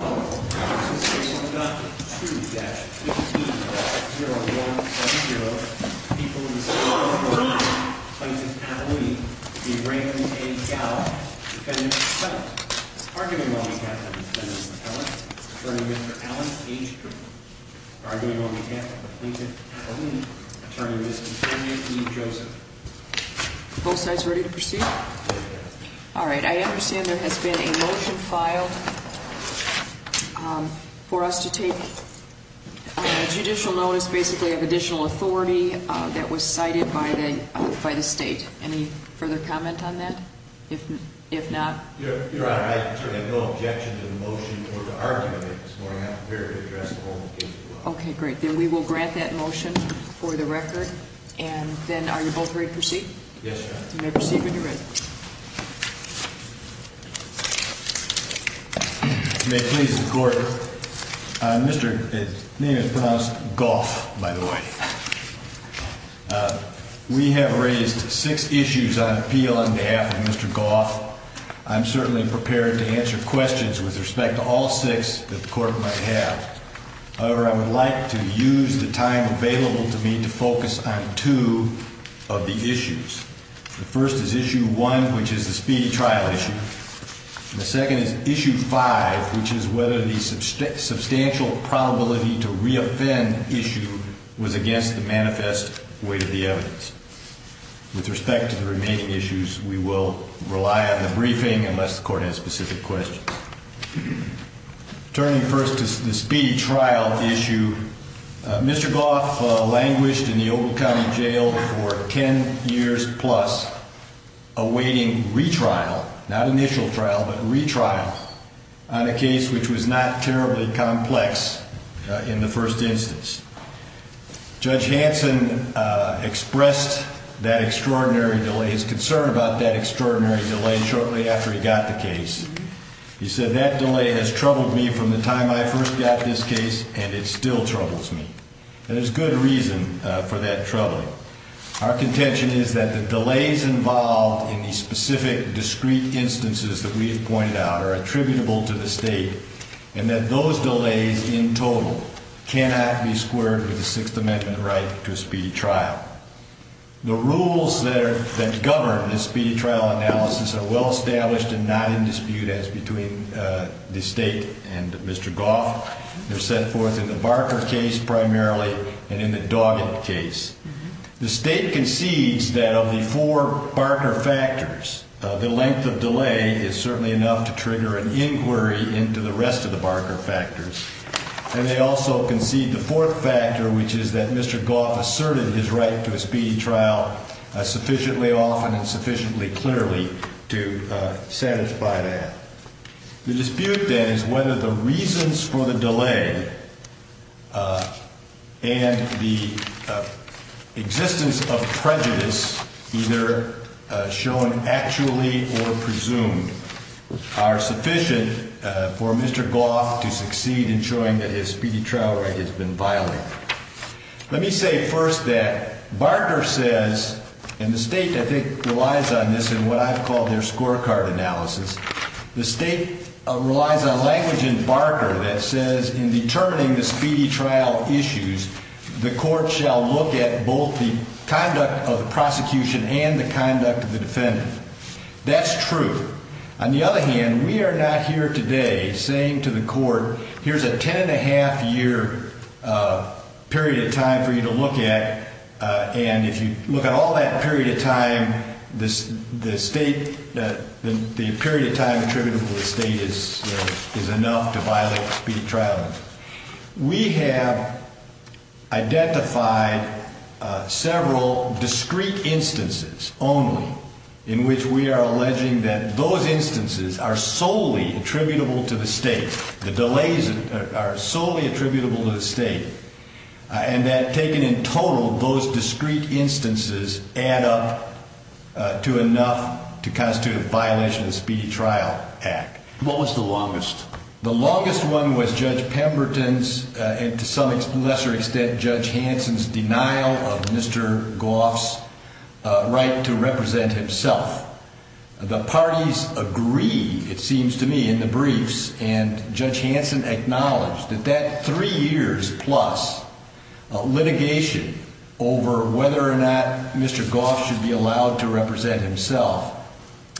2-15-0170, People in the City of Oro County, Plaintiff Kathleen B. Rankin A. Gowell, Defendant South, Arguing Monicaptor, Defendant Ellis, Attorney Mr. Alan H. Cooper, Arguing Monicaptor, Plaintiff Kathleen, Attorney Mr. Henry E. Joseph. Both sides ready to proceed? All right, I understand there has been a motion filed for us to take judicial notice basically of additional authority that was cited by the state. Any further comment on that? If not... Your Honor, I have no objection to the motion or the argument this morning. I'm prepared to address the whole case as well. Okay, great. Then we will grant that motion for the record. And then are you both ready to proceed? Yes, Your Honor. All right, you may proceed when you're ready. If you may please, Your Honor. Mr. Gough, by the way. We have raised six issues on appeal on behalf of Mr. Gough. I'm certainly prepared to answer questions with respect to all six that the court might have. However, I would like to use the time available to me to focus on two of the issues. The first is issue one, which is the speedy trial issue. The second is issue five, which is whether the substantial probability to reoffend issue was against the manifest weight of the evidence. With respect to the remaining issues, we will rely on the briefing unless the court has specific questions. Turning first to the speedy trial issue, Mr. Gough languished in the Oval County Jail for ten years plus, awaiting retrial, not initial trial, but retrial on a case which was not terribly complex in the first instance. Judge Hanson expressed that extraordinary delay, his concern about that extraordinary delay, shortly after he got the case. He said, that delay has troubled me from the time I first got this case, and it still troubles me. There's good reason for that troubling. Our contention is that the delays involved in the specific discrete instances that we have pointed out are attributable to the state, and that those delays in total cannot be squared with the Sixth Amendment right to a speedy trial. The rules that govern the speedy trial analysis are well established and not in dispute as between the state and Mr. Gough. They're set forth in the Barker case primarily and in the Doggett case. The state concedes that of the four Barker factors, the length of delay is certainly enough to trigger an inquiry into the rest of the Barker factors. And they also concede the fourth factor, which is that Mr. Gough asserted his right to a speedy trial sufficiently often and sufficiently clearly to satisfy that. The dispute, then, is whether the reasons for the delay and the existence of prejudice, either shown actually or presumed, are sufficient for Mr. Gough to succeed in showing that his speedy trial right has been violated. Let me say first that Barker says, and the state, I think, relies on this in what I've called their scorecard analysis, the state relies on language in Barker that says in determining the speedy trial issues, the court shall look at both the conduct of the prosecution and the conduct of the defendant. That's true. On the other hand, we are not here today saying to the court, here's a ten and a half year period of time for you to look at, and if you look at all that period of time, the period of time attributable to the state is enough to violate the speedy trial. We have identified several discrete instances only in which we are alleging that those instances are solely attributable to the state, the delays are solely attributable to the state, and that taken in total, those discrete instances add up to enough to constitute a violation of the Speedy Trial Act. What was the longest? The longest one was Judge Pemberton's, and to some lesser extent, Judge Hanson's denial of Mr. Gough's right to represent himself. The parties agree, it seems to me, in the briefs, and Judge Hanson acknowledged that that three years plus litigation over whether or not Mr. Gough should be allowed to represent himself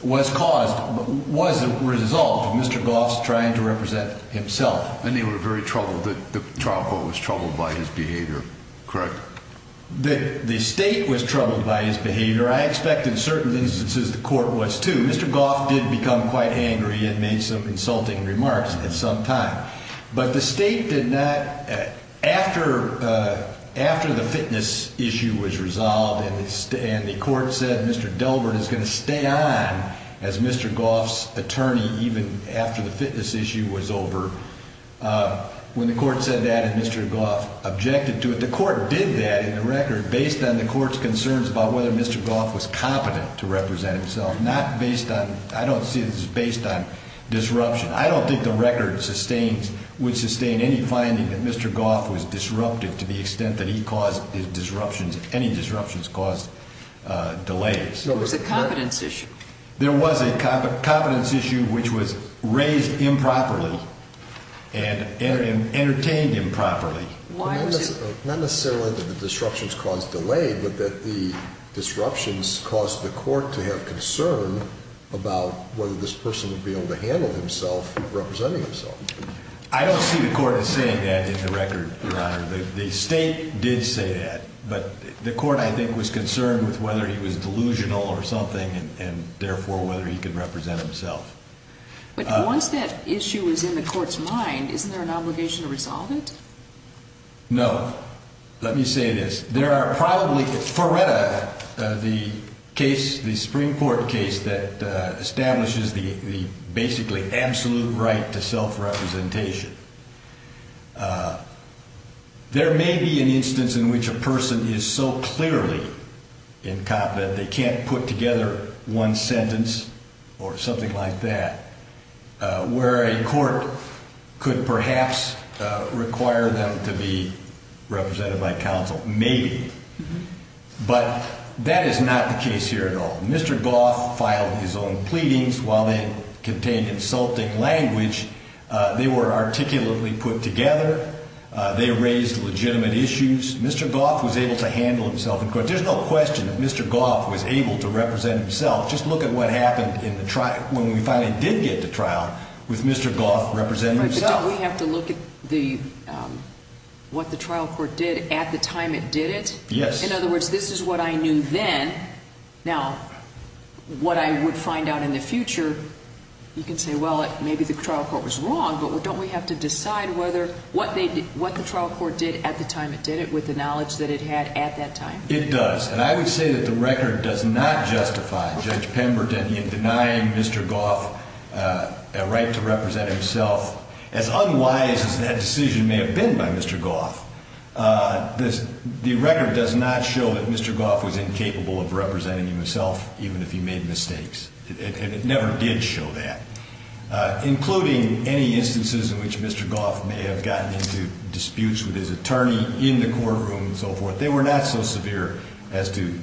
was caused, was a result of Mr. Gough's trying to represent himself. And they were very troubled, the trial court was troubled by his behavior, correct? The state was troubled by his behavior. I expect in certain instances the court was too. Mr. Gough did become quite angry and made some insulting remarks at some time, but the state did not, after the fitness issue was resolved and the court said Mr. Delbert is going to stay on as Mr. Gough's attorney even after the fitness issue was over, when the court said that and Mr. Gough objected to it, the court did that in the record based on the court's concerns about whether Mr. Gough was competent to represent himself, not based on, I don't see this as based on disruption. I don't think the record would sustain any finding that Mr. Gough was disruptive to the extent that he caused disruptions, any disruptions caused delays. There was a competence issue. There was a competence issue which was raised improperly and entertained improperly. Not necessarily that the disruptions caused delay, but that the disruptions caused the court to have concern about whether this person would be able to handle himself representing himself. I don't see the court as saying that in the record, Your Honor. The state did say that, but the court I think was concerned with whether he was delusional or something and therefore whether he could represent himself. But once that issue is in the court's mind, isn't there an obligation to resolve it? No. Let me say this. There are probably, Feretta, the case, the Supreme Court case that establishes the basically absolute right to self-representation, there may be an instance in which a person is so clearly incompetent that they can't put together one sentence or something like that, where a court could perhaps require them to be represented by counsel. Maybe. But that is not the case here at all. Mr. Gough filed his own pleadings while they contained insulting language. They were articulately put together. They raised legitimate issues. Mr. Gough was able to handle himself in court. But there's no question that Mr. Gough was able to represent himself. Just look at what happened when we finally did get to trial with Mr. Gough representing himself. But don't we have to look at what the trial court did at the time it did it? Yes. In other words, this is what I knew then. Now, what I would find out in the future, you can say, well, maybe the trial court was wrong, but don't we have to decide what the trial court did at the time it did it with the knowledge that it had at that time? It does. And I would say that the record does not justify Judge Pemberton denying Mr. Gough a right to represent himself. As unwise as that decision may have been by Mr. Gough, the record does not show that Mr. Gough was incapable of representing himself, even if he made mistakes. It never did show that, including any instances in which Mr. Gough may have gotten into disputes with his attorney in the courtroom and so forth. But they were not so severe as to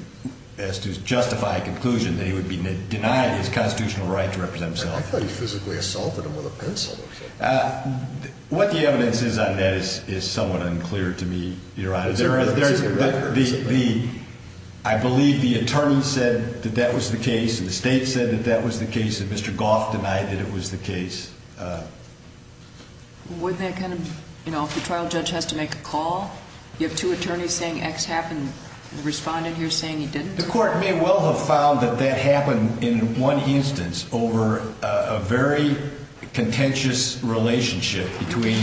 justify a conclusion that he would be denied his constitutional right to represent himself. I thought he physically assaulted him with a pencil or something. What the evidence is on that is somewhat unclear to me, Your Honor. I believe the attorney said that that was the case and the state said that that was the case and Mr. Gough denied that it was the case. Wouldn't that kind of, you know, if the trial judge has to make a call, you have two attorneys saying X happened and the respondent here saying he didn't? The court may well have found that that happened in one instance over a very contentious relationship between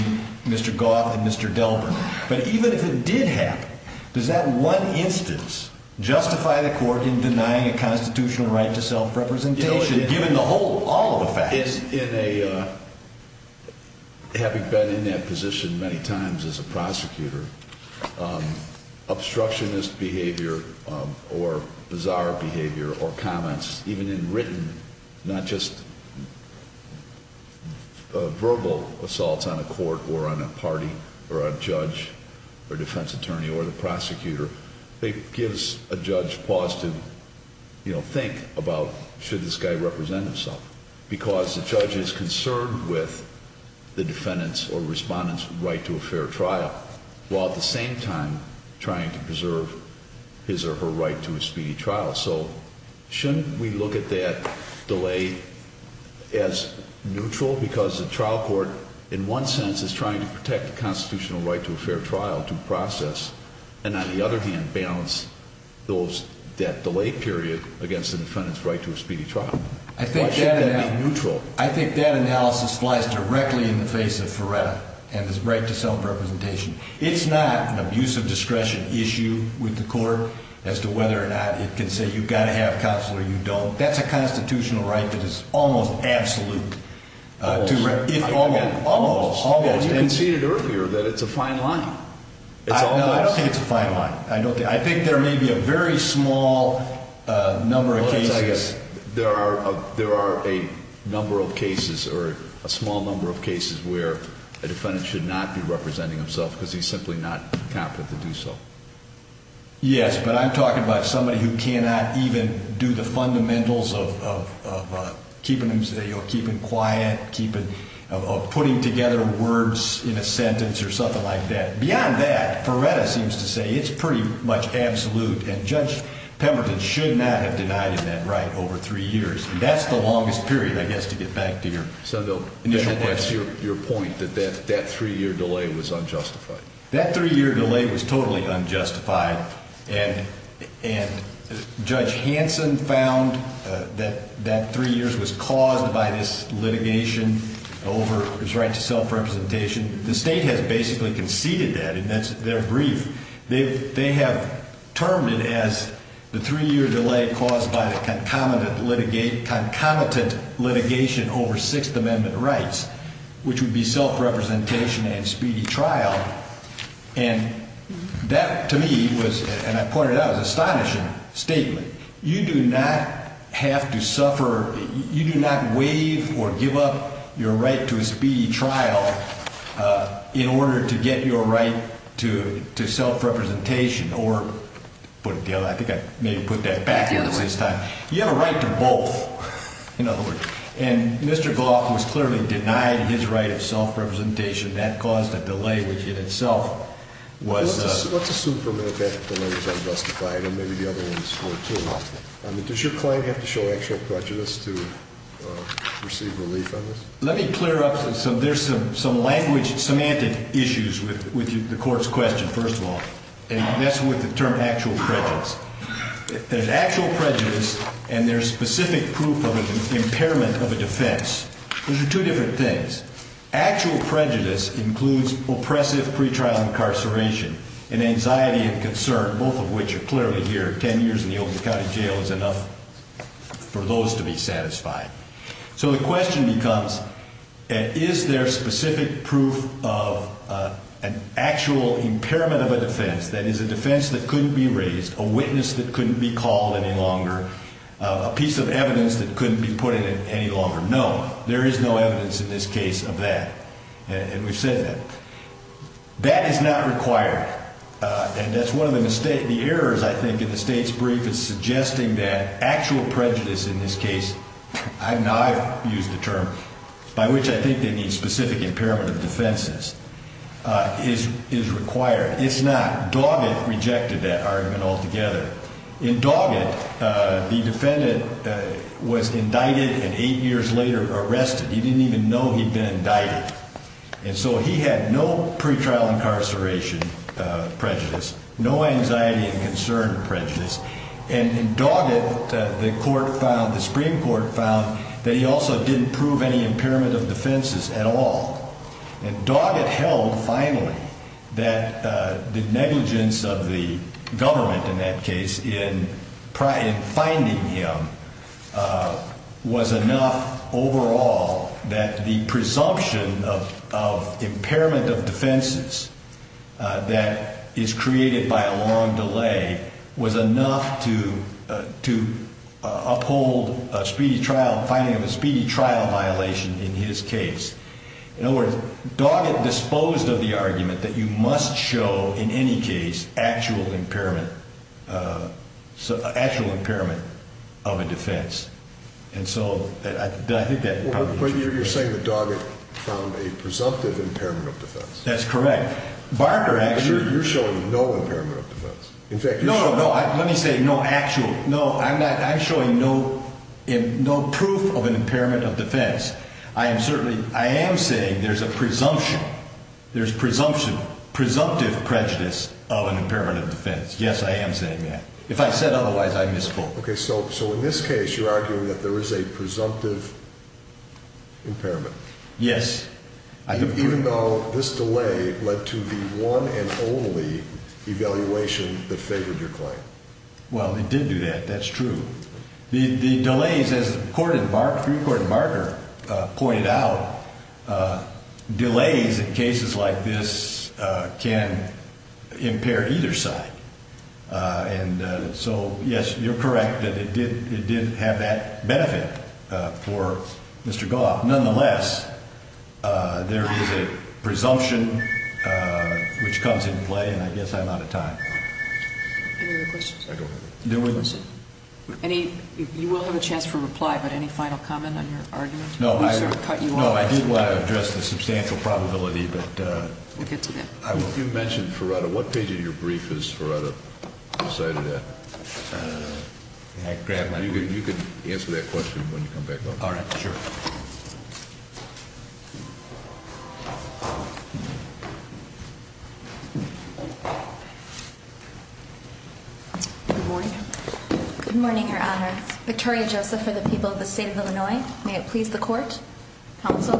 Mr. Gough and Mr. Delbert. But even if it did happen, does that one instance justify the court in denying a constitutional right to self-representation, given the whole, all of the facts? In a, having been in that position many times as a prosecutor, obstructionist behavior or bizarre behavior or comments, even in written, not just verbal assaults on a court or on a party or a judge or defense attorney or the prosecutor, it gives a judge pause to, you know, think about should this guy represent himself? Because the judge is concerned with the defendant's or respondent's right to a fair trial, while at the same time trying to preserve his or her right to a speedy trial. So shouldn't we look at that delay as neutral? Because the trial court, in one sense, is trying to protect the constitutional right to a fair trial due process, and on the other hand, balance that delay period against the defendant's right to a speedy trial. I think that analysis flies directly in the face of Feretta and his right to self-representation. It's not an abuse of discretion issue with the court as to whether or not it can say you've got to have counsel or you don't. That's a constitutional right that is almost absolute. Almost. Almost. You conceded earlier that it's a fine line. I don't think it's a fine line. I think there may be a very small number of cases. There are a number of cases or a small number of cases where a defendant should not be representing himself because he's simply not competent to do so. Yes, but I'm talking about somebody who cannot even do the fundamentals of keeping quiet, of putting together words in a sentence or something like that. Beyond that, Feretta seems to say it's pretty much absolute, and Judge Pemberton should not have denied him that right over three years. That's the longest period, I guess, to get back to your initial question. So that's your point, that that three-year delay was unjustified. That three-year delay was totally unjustified, and Judge Hanson found that that three years was caused by this litigation over his right to self-representation. The state has basically conceded that, and that's their brief. They have termed it as the three-year delay caused by the concomitant litigation over Sixth Amendment rights, which would be self-representation and speedy trial. And that, to me, was, and I pointed out, an astonishing statement. You do not have to suffer, you do not waive or give up your right to a speedy trial in order to get your right to self-representation or, to put it the other way, I think I maybe put that backwards this time. You have a right to both, in other words. And Mr. Goff was clearly denied his right of self-representation. That caused a delay, which in itself was a... Let's assume for a minute that delay was unjustified, and maybe the other ones were, too. Does your client have to show actual prejudice to receive relief on this? Let me clear up some, there's some language, semantic issues with the court's question, first of all. And that's with the term actual prejudice. There's actual prejudice and there's specific proof of an impairment of a defense. Those are two different things. Actual prejudice includes oppressive pretrial incarceration and anxiety and concern, both of which are clearly here. Ten years in the Oakland County Jail is enough for those to be satisfied. So the question becomes, is there specific proof of an actual impairment of a defense, that is a defense that couldn't be raised, a witness that couldn't be called any longer, a piece of evidence that couldn't be put in any longer? No, there is no evidence in this case of that. And we've said that. That is not required. And that's one of the errors, I think, in the State's brief is suggesting that actual prejudice in this case, and I've used the term, by which I think they mean specific impairment of defenses, is required. It's not. Doggett rejected that argument altogether. In Doggett, the defendant was indicted and eight years later arrested. He didn't even know he'd been indicted. And so he had no pretrial incarceration prejudice, no anxiety and concern prejudice. And in Doggett, the Supreme Court found that he also didn't prove any impairment of defenses at all. And Doggett held, finally, that the negligence of the government in that case in finding him was enough overall that the presumption of impairment of defenses that is created by a long delay was enough to uphold a speedy trial, finding of a speedy trial violation in his case. In other words, Doggett disposed of the argument that you must show, in any case, actual impairment of a defense. But you're saying that Doggett found a presumptive impairment of defense. That's correct. You're showing no impairment of defense. No, no, let me say no actual. No, I'm showing no proof of an impairment of defense. I am saying there's a presumption, there's presumptive prejudice of an impairment of defense. Yes, I am saying that. If I said otherwise, I misspoke. Okay, so in this case, you're arguing that there is a presumptive impairment. Yes. Even though this delay led to the one and only evaluation that favored your claim. Well, it did do that, that's true. The delays, as the Supreme Court and Barker pointed out, delays in cases like this can impair either side. And so, yes, you're correct that it did have that benefit for Mr. Gauff. Nonetheless, there is a presumption which comes into play, and I guess I'm out of time. Any other questions? I don't have any. You will have a chance for reply, but any final comment on your argument? No, I did want to address the substantial probability. We'll get to that. You mentioned Ferrata. What page of your brief is Ferrata cited at? Can I grab my brief? You can answer that question when you come back up. All right, sure. Good morning. Good morning, Your Honor. Victoria Joseph for the people of the State of Illinois. May it please the Court. Counsel.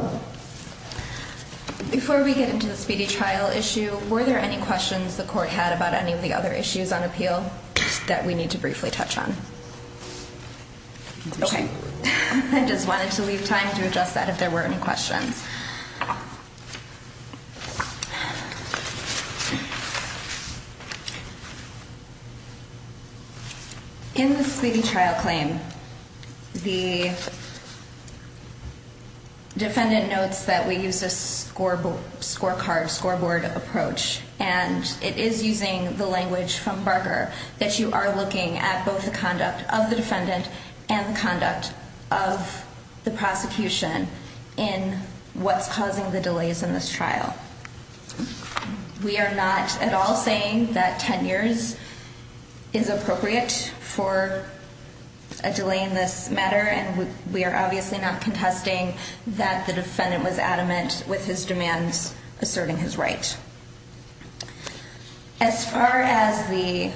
Before we get into the speedy trial issue, were there any questions the Court had about any of the other issues on appeal that we need to briefly touch on? Okay. I just wanted to leave time to address that if there were any questions. In the speedy trial claim, the defendant notes that we used a scorecard, scoreboard approach, and it is using the language from Barker that you are looking at both the conduct of the defendant and the conduct of the prosecution in what's causing the delays in this trial. We are not at all saying that 10 years is appropriate for a delay in this matter, and we are obviously not contesting that the defendant was adamant with his demands asserting his right. As far as the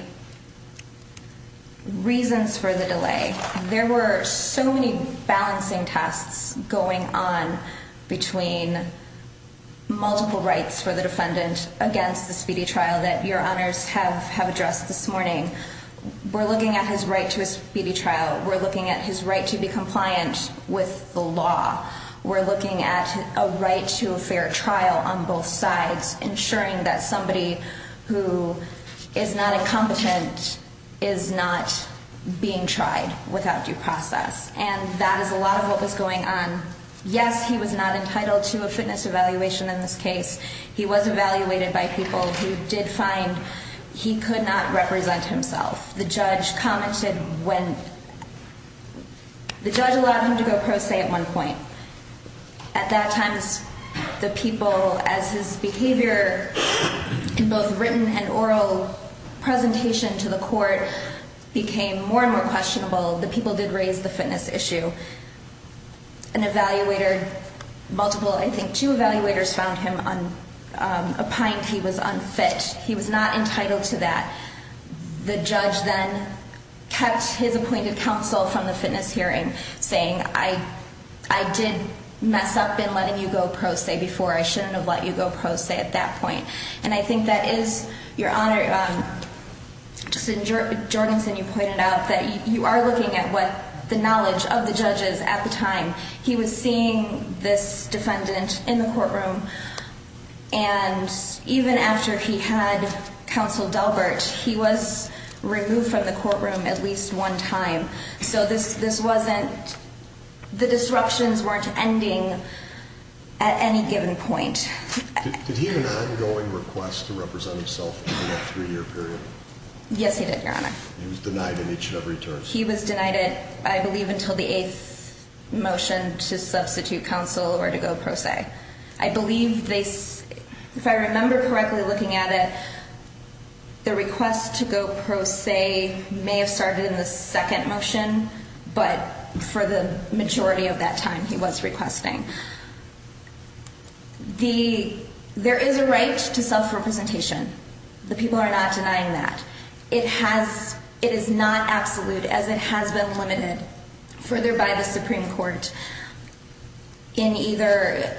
reasons for the delay, there were so many balancing tasks going on between multiple rights for the defendant against the speedy trial that Your Honors have addressed this morning. We're looking at his right to a speedy trial. We're looking at his right to be compliant with the law. We're looking at a right to a fair trial on both sides, ensuring that somebody who is not incompetent is not being tried without due process. And that is a lot of what was going on. Yes, he was not entitled to a fitness evaluation in this case. He was evaluated by people who did find he could not represent himself. The judge allowed him to go pro se at one point. At that time, the people, as his behavior in both written and oral presentation to the court became more and more questionable, the people did raise the fitness issue. An evaluator, multiple, I think two evaluators found him a pint he was unfit. He was not entitled to that. The judge then cut his appointed counsel from the fitness hearing, saying I did mess up in letting you go pro se before. I shouldn't have let you go pro se at that point. And I think that is, Your Honor, just in Jorgensen, you pointed out that you are looking at what the knowledge of the judges at the time. He was seeing this defendant in the courtroom. And even after he had counseled Delbert, he was removed from the courtroom at least one time. So this wasn't, the disruptions weren't ending at any given point. Did he have an ongoing request to represent himself during that three-year period? Yes, he did, Your Honor. He was denied an inch of returns. He was denied it, I believe, until the eighth motion to substitute counsel or to go pro se. I believe they, if I remember correctly looking at it, the request to go pro se may have started in the second motion, but for the majority of that time he was requesting. The, there is a right to self-representation. The people are not denying that. It has, it is not absolute as it has been limited further by the Supreme Court in either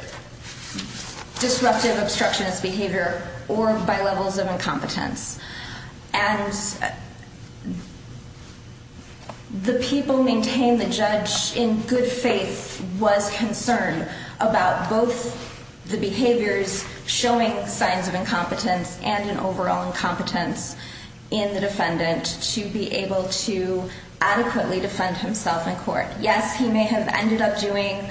disruptive obstructionist behavior or by levels of incompetence. And the people maintain the judge in good faith was concerned about both the behaviors showing signs of incompetence and an overall incompetence in the defendant to be able to adequately defend himself in court. Yes, he may have ended up doing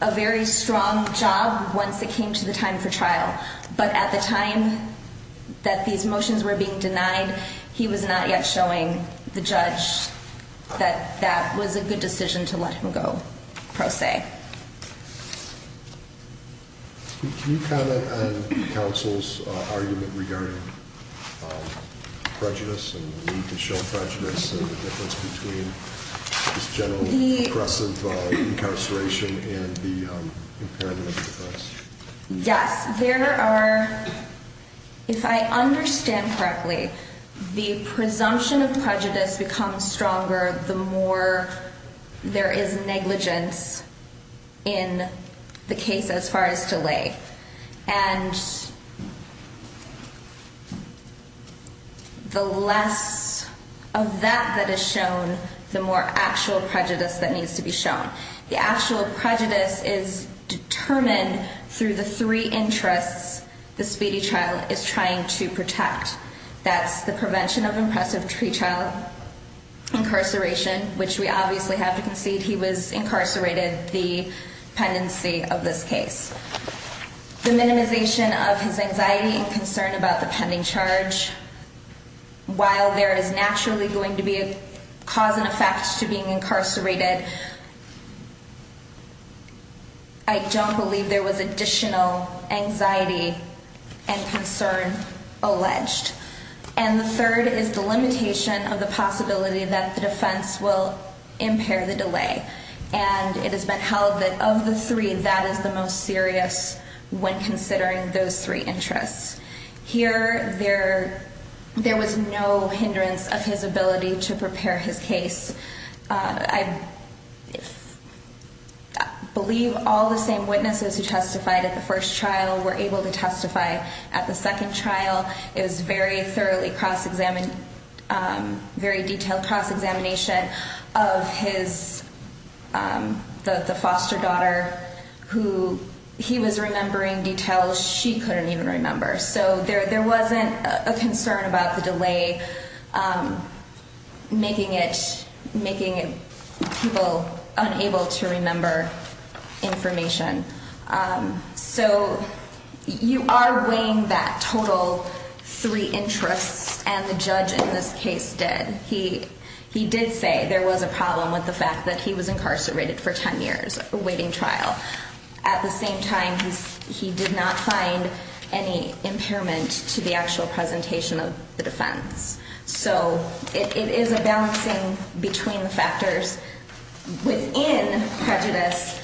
a very strong job once it came to the time for trial. But at the time that these motions were being denied, he was not yet showing the judge that that was a good decision to let him go pro se. Can you comment on counsel's argument regarding prejudice and the need to show prejudice and the difference between this general oppressive incarceration and the impairment of the defense? Yes, there are, if I understand correctly, the presumption of prejudice becomes stronger the more there is negligence in the case as far as delay. And the less of that that is shown, the more actual prejudice that needs to be shown. The actual prejudice is determined through the three interests the speedy trial is trying to protect. That's the prevention of impressive tree trial incarceration, which we obviously have to concede he was incarcerated the pendency of this case. The minimization of his anxiety and concern about the pending charge. While there is naturally going to be a cause and effect to being incarcerated. I don't believe there was additional anxiety and concern alleged. And the third is the limitation of the possibility that the defense will impair the delay. And it has been held that of the three, that is the most serious when considering those three interests. Here, there was no hindrance of his ability to prepare his case. I believe all the same witnesses who testified at the first trial were able to testify at the second trial. It was very thoroughly cross-examined, very detailed cross-examination of his, the foster daughter who he was remembering details she couldn't even remember. So there wasn't a concern about the delay making it, making people unable to remember information. So you are weighing that total three interests and the judge in this case did. He did say there was a problem with the fact that he was incarcerated for 10 years awaiting trial. At the same time, he did not find any impairment to the actual presentation of the defense. So it is a balancing between the factors within prejudice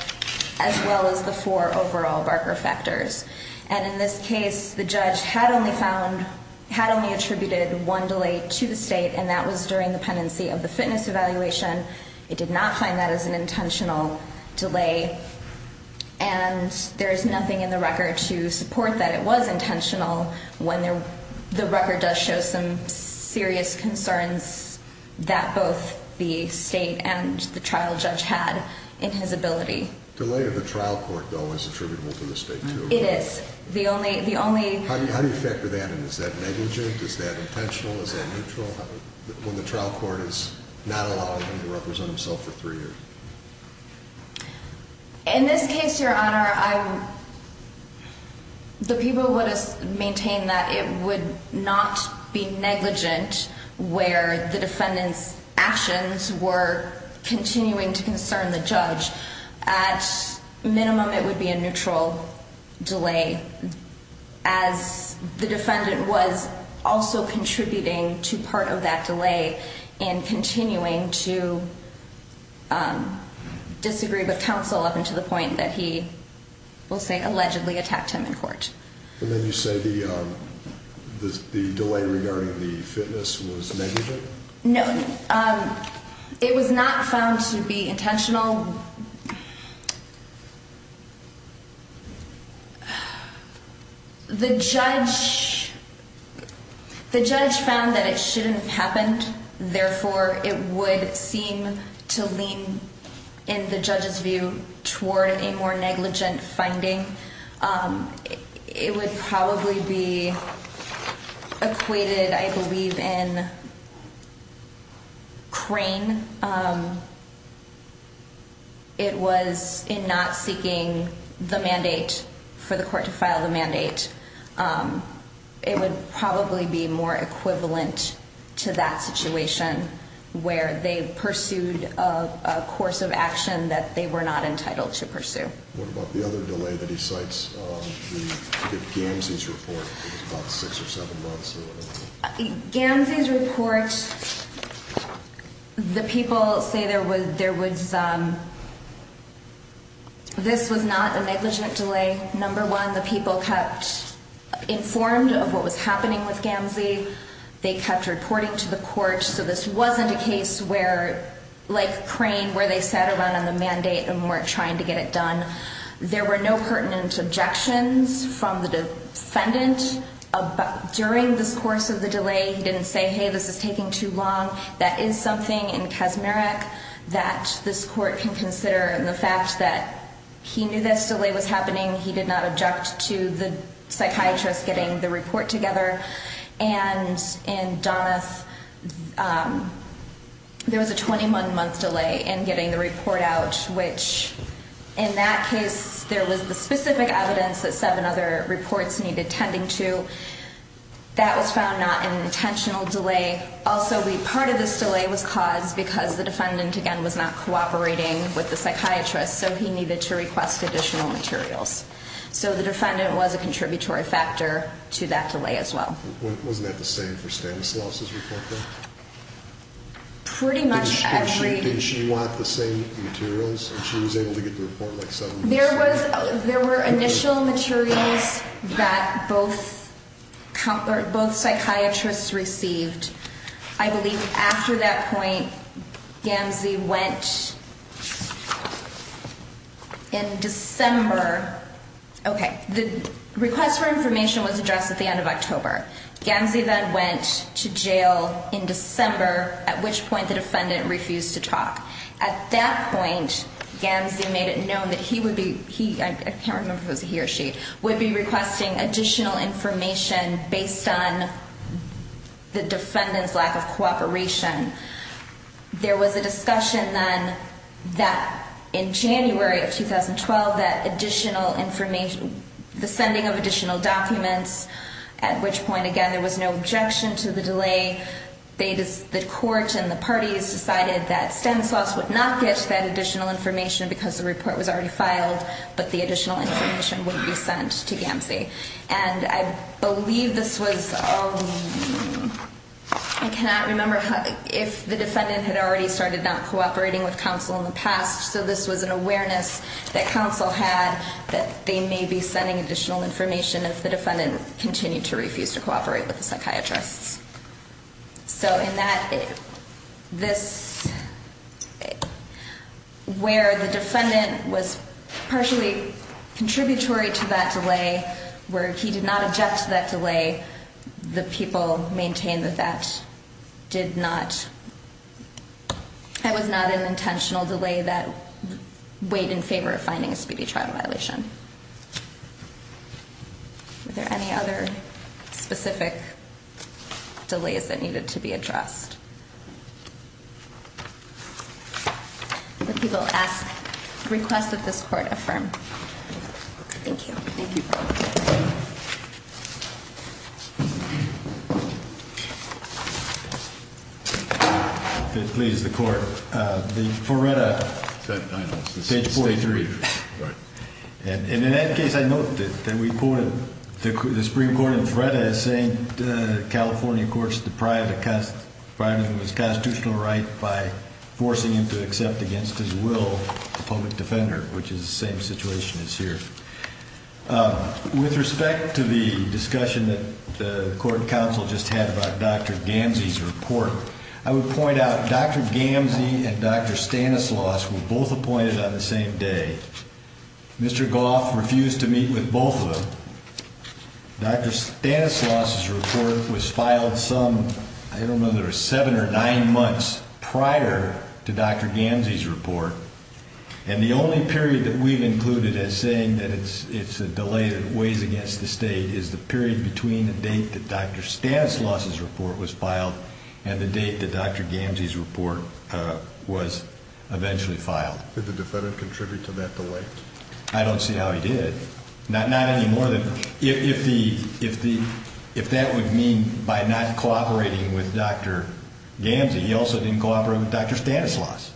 as well as the four overall Barker factors. And in this case, the judge had only found, had only attributed one delay to the state and that was during the pendency of the fitness evaluation. It did not find that as an intentional delay. And there is nothing in the record to support that it was intentional when the record does show some serious concerns that both the state and the trial judge had in his ability. Delay of the trial court, though, is attributable to the state too. It is. The only. The only. How do you factor that in? Is that negligent? Is that intentional? Is that neutral? When the trial court is not allowing him to represent himself for three years. In this case, Your Honor, I'm. The people would have maintained that it would not be negligent where the defendant's actions were continuing to concern the judge. At minimum, it would be a neutral delay as the defendant was also contributing to part of that delay and continuing to disagree with counsel up until the point that he will say allegedly attacked him in court. And then you say the delay regarding the fitness was negligent? No, it was not found to be intentional. The judge. The judge found that it shouldn't have happened. Therefore, it would seem to lean in the judge's view toward a more negligent finding. It would probably be equated, I believe, in crane. It was in not seeking the mandate for the court to file the mandate. It would probably be more equivalent to that situation where they pursued a course of action that they were not entitled to pursue. What about the other delay that he cites? The Gamses report about six or seven months. Gamses report. The people say there was there was. This was not a negligent delay. Number one, the people kept informed of what was happening with Gamses. They kept reporting to the court. So this wasn't a case where, like crane, where they sat around on the mandate and weren't trying to get it done. There were no pertinent objections from the defendant during this course of the delay. He didn't say, hey, this is taking too long. That is something in Kazmarek that this court can consider. And the fact that he knew this delay was happening, he did not object to the psychiatrist getting the report together. And in Doneth, there was a 21 month delay in getting the report out, which in that case, there was the specific evidence that seven other reports needed tending to. That was found not an intentional delay. Also, the part of this delay was caused because the defendant, again, was not cooperating with the psychiatrist. So he needed to request additional materials. So the defendant was a contributory factor to that delay as well. Wasn't that the same for Stanislaus' report, though? Pretty much every... Didn't she want the same materials? She was able to get the report like seven days later. There were initial materials that both psychiatrists received. I believe after that point, Gamzee went in December. Okay, the request for information was addressed at the end of October. Gamzee then went to jail in December, at which point the defendant refused to talk. At that point, Gamzee made it known that he would be... I can't remember if it was he or she... Would be requesting additional information based on the defendant's lack of cooperation. There was a discussion then that in January of 2012, that additional information... The sending of additional documents, at which point, again, there was no objection to the delay. The court and the parties decided that Stanislaus would not get that additional information because the report was already filed, but the additional information would be sent to Gamzee. And I believe this was... I cannot remember if the defendant had already started not cooperating with counsel in the past, so this was an awareness that counsel had that they may be sending additional information if the defendant continued to refuse to cooperate with the psychiatrists. So in that, this... Where the defendant was partially contributory to that delay, where he did not object to that delay, the people maintained that that did not... Delay that weighed in favor of finding a speedy trial violation. Were there any other specific delays that needed to be addressed? The people asked... Request that this court affirm. Thank you. Thank you. If it pleases the court, the Ferretta, page 43. And in that case, I note that we quoted the Supreme Court in Ferretta as saying that the California courts deprived him of his constitutional right by forcing him to accept against his will the public defender, which is the same situation as here. With respect to the discussion that the court counsel just had about Dr. Gamzee's report, I would point out Dr. Gamzee and Dr. Stanislaus were both appointed on the same day. Mr. Goff refused to meet with both of them. Dr. Stanislaus's report was filed some, I don't know, seven or nine months prior to Dr. Gamzee's report, and the only period that we've included as saying that it's a delay that weighs against the state is the period between the date that Dr. Stanislaus's report was filed and the date that Dr. Gamzee's report was eventually filed. Did the defendant contribute to that delay? I don't see how he did. Not any more than if that would mean by not cooperating with Dr. Gamzee, he also didn't cooperate with Dr. Stanislaus,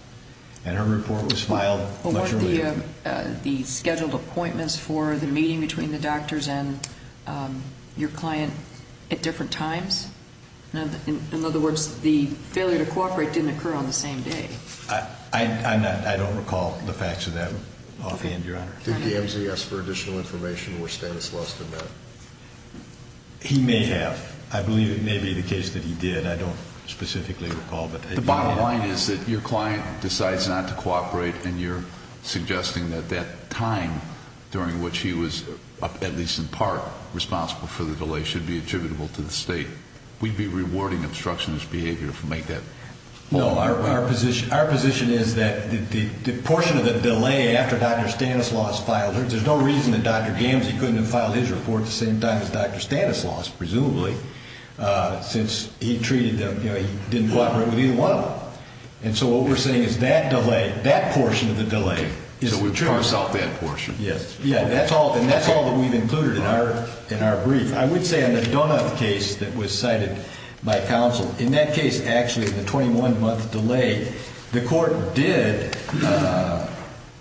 and her report was filed much earlier. What were the scheduled appointments for the meeting between the doctors and your client at different times? In other words, the failure to cooperate didn't occur on the same day. I don't recall the facts of that offhand, Your Honor. Did Gamzee ask for additional information, or Stanislaus did not? He may have. I believe it may be the case that he did. I don't specifically recall. The bottom line is that your client decides not to cooperate, and you're suggesting that that time during which he was, at least in part, responsible for the delay should be attributable to the state. We'd be rewarding obstructionist behavior if we make that point. No, our position is that the portion of the delay after Dr. Stanislaus filed, there's no reason that Dr. Gamzee couldn't have filed his report at the same time as Dr. Stanislaus, presumably, since he treated them, you know, he didn't cooperate with either one of them. And so what we're saying is that delay, that portion of the delay is attributable. So we parse out that portion. Yes. Yeah, and that's all that we've included in our brief. I would say on the Donuth case that was cited by counsel, in that case, actually, the 21-month delay, the court did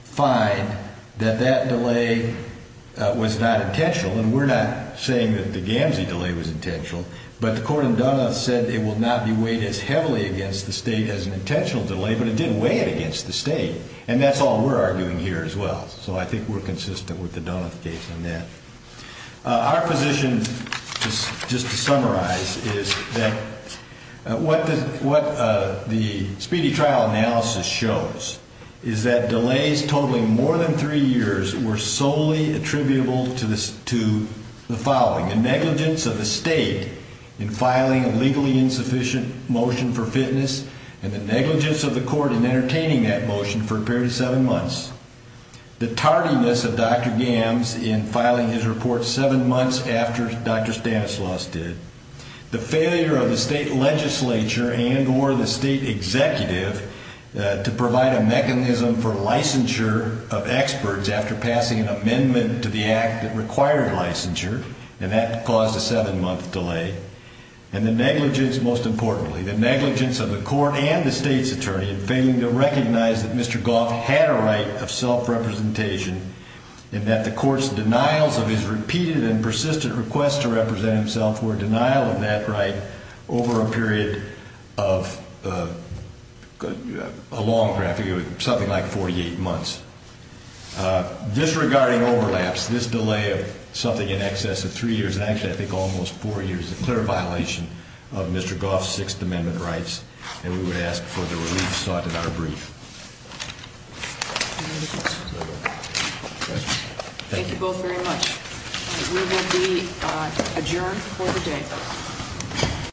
find that that delay was not intentional, and we're not saying that the Gamzee delay was intentional, but the court in Donuth said it will not be weighed as heavily against the state as an intentional delay, but it did weigh it against the state, and that's all we're arguing here as well. So I think we're consistent with the Donuth case on that. Our position, just to summarize, is that what the speedy trial analysis shows is that the negligence of the state in filing a legally insufficient motion for fitness and the negligence of the court in entertaining that motion for a period of seven months, the tardiness of Dr. Gamzee in filing his report seven months after Dr. Stanislaus did, the failure of the state legislature and or the state executive to provide a mechanism for licensure of experts after passing an amendment to the act that required licensure, and that caused a seven-month delay, and the negligence, most importantly, the negligence of the court and the state's attorney in failing to recognize that Mr. Goff had a right of self-representation and that the court's denials of his repeated and persistent requests to represent himself for a denial of that right over a period of a long period, something like 48 months. Disregarding overlaps, this delay of something in excess of three years, and actually I think almost four years, is a clear violation of Mr. Goff's Sixth Amendment rights, and we would ask for the relief sought in our brief. Any other questions? Thank you both very much. We will be adjourned for the day.